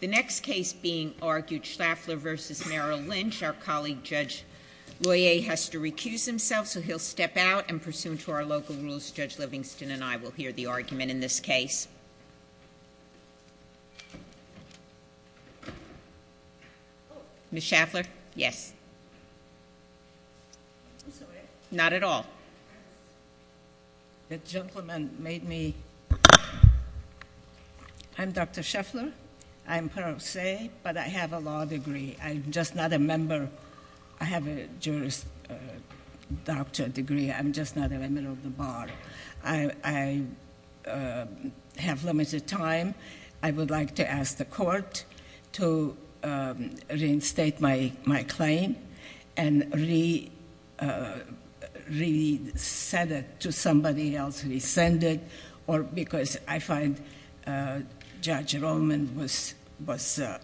The next case being argued, Shafler v. Merrill Lynch. Our colleague, Judge Loyer, has to recuse himself, so he'll step out and pursuant to our local rules, Judge Livingston and I will hear the argument in this case. Ms. Shafler? Yes. Not at all. The gentleman made me... I'm Dr. Shafler. I'm parole say, but I have a law degree. I'm just not a member. I have a Juris Doctor degree. I'm just not a member of the bar. I have limited time. I would like to ask the gentleman if he said it to somebody else, he send it, or because I find Judge Roman was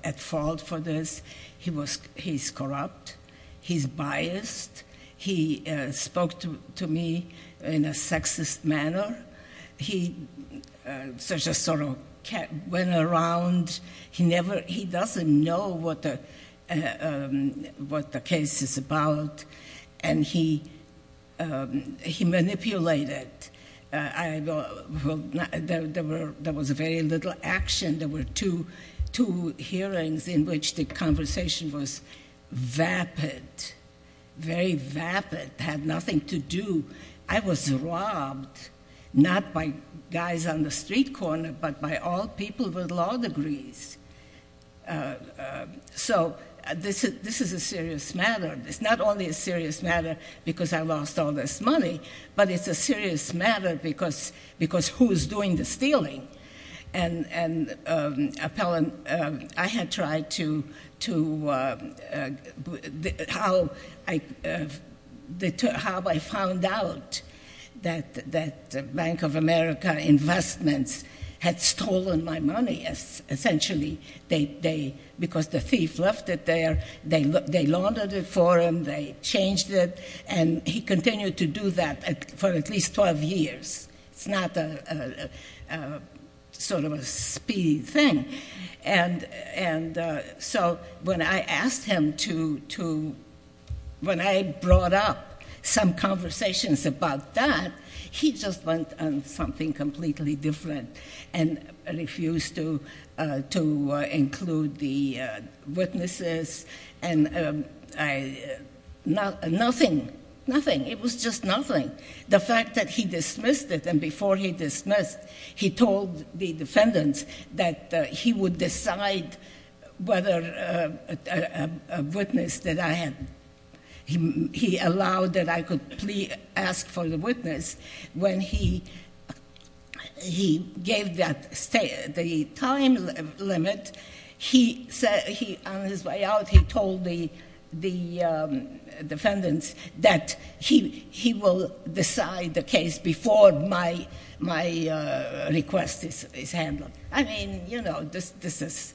at fault for this. He's corrupt. He's biased. He spoke to me in a sexist manner. He just sort of went around. He doesn't know what the case is about. He manipulated. There was very little action. There were two hearings in which the conversation was vapid, very vapid, had nothing to do. I was robbed, not by guys on the street corner, but by all people with law degrees. So this is a serious matter. It's not only a serious matter because I lost all this money, but it's a serious matter because who's doing the stealing? Appellant, I had tried to... how I found out that Bank of America Investments had stolen my money, essentially, because the thief left it there. They laundered it for him. They changed it. He continued to do that for at least 12 years. It's not sort of a speedy thing. So when I asked him to... when I brought up some conversations about that, he just went on completely different and refused to include the witnesses. Nothing. Nothing. It was just nothing. The fact that he dismissed it, and before he dismissed, he told the defendants that he would decide whether a witness that I had... he allowed that I could ask for the witness, when he gave the time limit, on his way out, he told the defendants that he will decide the case before my request is handled. I mean, you know, this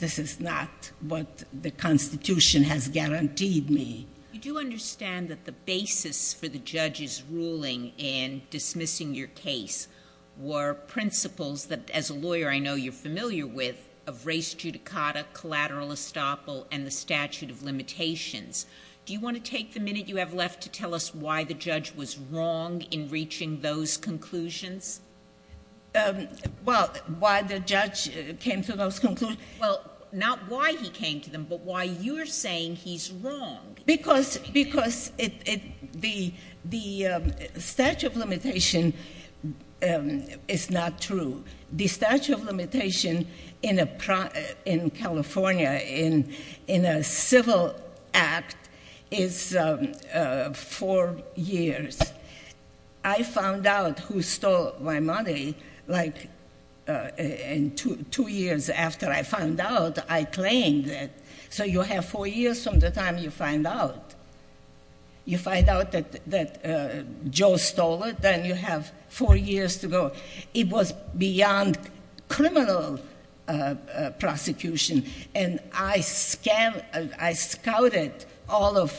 is not what the Constitution has guaranteed me. You do understand that the basis for the judge's ruling in dismissing your case were principles that, as a lawyer I know you're familiar with, of res judicata, collateral estoppel, and the statute of limitations. Do you want to take the minute you have left to tell us why the judge was wrong in reaching those conclusions? Well, why the judge came to those conclusions? Well, not why he came to them, but why you're saying he's wrong. Because the statute of limitation is not true. The statute of limitation in California, in a civil act, is four years. I found out who stole my money, like, two years after I found out, I claimed it. So you have four years from the time you find out. You find out that Joe stole it, then you have four years to go. It was beyond criminal prosecution, and I scouted all of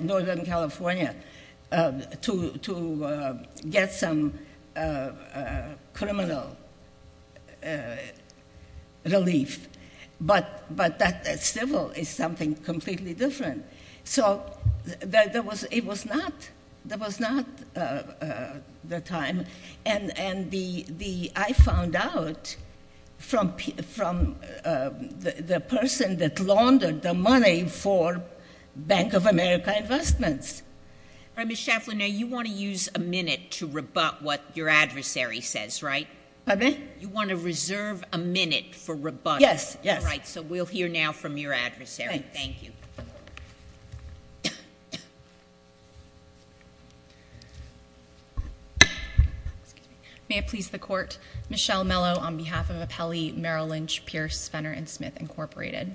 Northern California to get some criminal relief. But that civil is something completely different. So it was not the time, and I found out from the person that laundered the money for Bank of America Investments. All right, Ms. Shafflin, now you want to use a minute to rebut what your adversary says, right? Pardon me? You want to reserve a minute for rebuttal. Yes, yes. All right, so we'll hear now from your adversary. Thank you. May it please the Court, Michelle Mello on behalf of appellee Merrill Lynch, Pierce, Fenner, and Smith, Incorporated.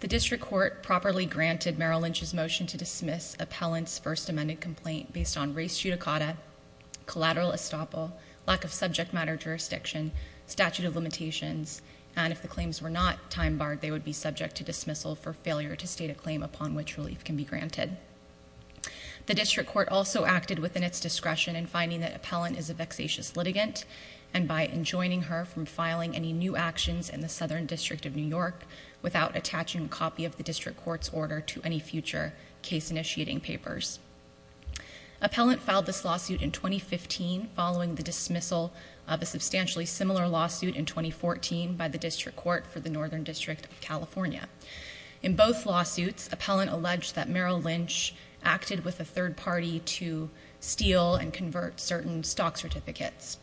The district court properly granted Merrill Lynch's motion to dismiss appellant's first amended complaint based on race judicata, collateral estoppel, lack of subject matter jurisdiction, statute of limitations, and if the claims were not time barred, they would be subject to dismissal for failure to state a claim upon which relief can be granted. The district court also acted within its discretion in finding that appellant is a vexatious litigant, and by enjoining her from filing any new actions in the Southern District of New York without attaching a copy of the district court's order to any future case-initiating papers. Appellant filed this lawsuit in 2015 following the dismissal of a substantially similar lawsuit in 2014 by the district court for the Northern District of California. In both lawsuits, appellant alleged that Merrill Lynch acted with a third party to steal and convert certain stock certificates.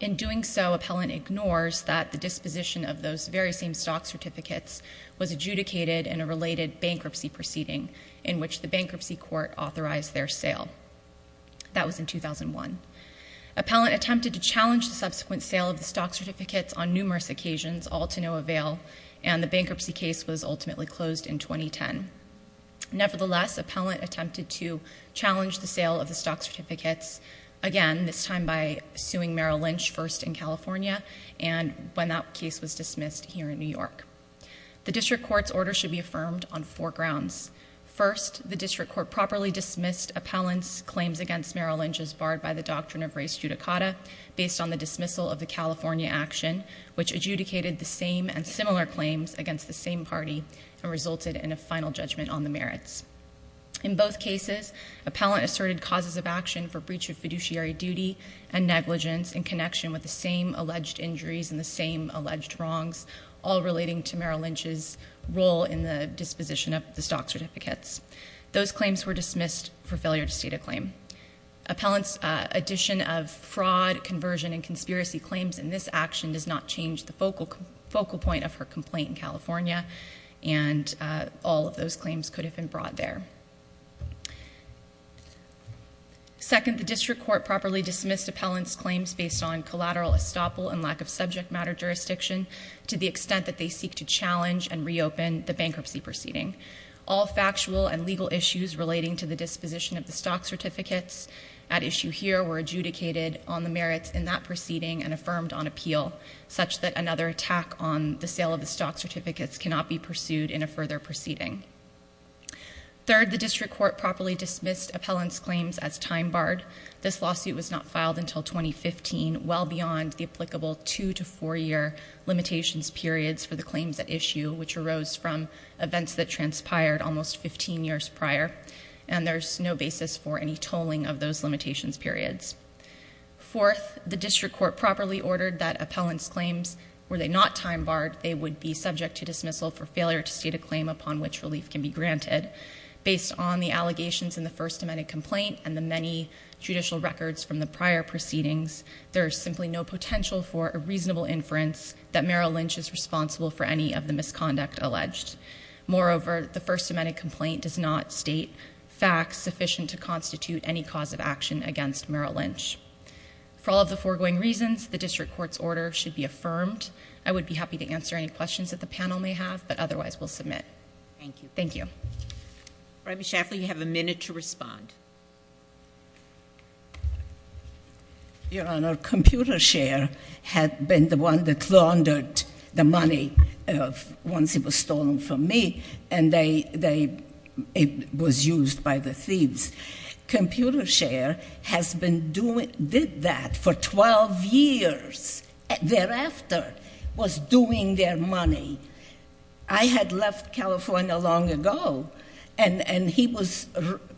In doing so, appellant ignores that the disposition of those very same stock certificates was adjudicated in a related bankruptcy proceeding in which the bankruptcy court authorized their sale. That was in 2001. Appellant attempted to challenge the subsequent sale of the stock certificates on numerous occasions, all to no avail, and the bankruptcy case was ultimately closed in 2010. Nevertheless, appellant attempted to challenge the sale of the stock certificates, again, this time by suing Merrill Lynch first in California and when that case was dismissed here in New York. The district court's order should be affirmed on four grounds. First, the district court properly dismissed appellant's claims against Merrill Lynch as barred by the doctrine of res judicata based on the dismissal of the California action, which adjudicated the same and similar claims against the same party and resulted in a final judgment on the merits. In both cases, appellant asserted causes of action for breach of fiduciary duty and negligence in connection with the same alleged injuries and the same alleged wrongs, all relating to Merrill Lynch's role in the disposition of the stock certificates. Those claims were dismissed for failure to state a claim. Appellant's addition of fraud, conversion, and conspiracy claims in this action and all of those claims could have been brought there. Second, the district court properly dismissed appellant's claims based on collateral estoppel and lack of subject matter jurisdiction to the extent that they seek to challenge and reopen the bankruptcy proceeding. All factual and legal issues relating to the disposition of the stock certificates at issue here were adjudicated on the merits in that proceeding and affirmed on appeal such that another attack on the sale of the stock certificates cannot be pursued in a further proceeding. Third, the district court properly dismissed appellant's claims as time-barred. This lawsuit was not filed until 2015, well beyond the applicable two- to four-year limitations periods for the claims at issue, which arose from events that transpired almost 15 years prior, and there's no basis for any tolling of those limitations periods. Fourth, the district court properly ordered that appellant's claims, were they not time-barred, they would be subject to dismissal for failure to state a claim upon which relief can be granted. Based on the allegations in the First Amendment complaint and the many judicial records from the prior proceedings, there is simply no potential for a reasonable inference that Merrill Lynch is responsible for any of the misconduct alleged. Moreover, the First Amendment complaint does not state facts sufficient to constitute any cause of action against Merrill Lynch. For all of the foregoing reasons, the district court's order should be affirmed. I would be happy to answer any questions that the panel may have, but otherwise we'll submit. Thank you. All right, Ms. Shaffley, you have a minute to respond. Your Honor, ComputerShare had been the one that laundered the money once it was stolen from me, and it was used by the thieves. ComputerShare did that for 12 years thereafter, was doing their money. I had left California long ago, and he was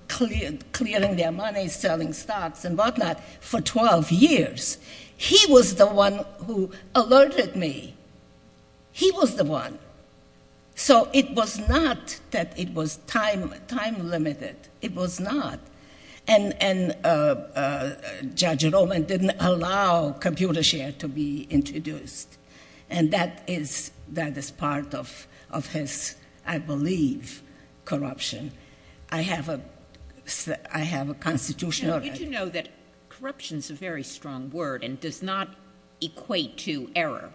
clearing their money, selling stocks and whatnot for 12 years. He was the one who alerted me. He was the one. So it was not that it was time-limited. It was not. And Judge Roman didn't allow ComputerShare to be introduced. And that is part of his, I believe, corruption. I have a constitutional right. You do know that corruption is a very strong word and does not equate to error.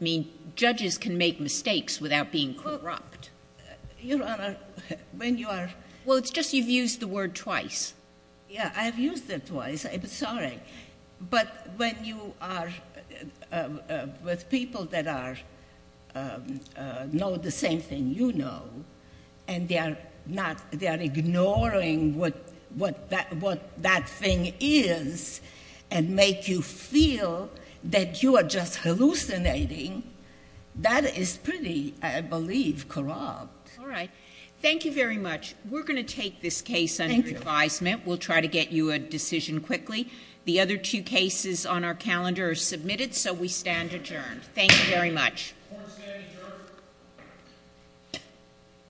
I mean, judges can make mistakes without being corrupt. Your Honor, when you are— Well, it's just you've used the word twice. Yeah, I've used it twice. I'm sorry. But when you are with people that know the same thing you know, and they are ignoring what that thing is and make you feel that you are just hallucinating, that is pretty, I believe, corrupt. All right. Thank you very much. We're going to take this case under advisement. We'll try to get you a decision quickly. The other two cases on our calendar are submitted, so we stand adjourned. Thank you very much.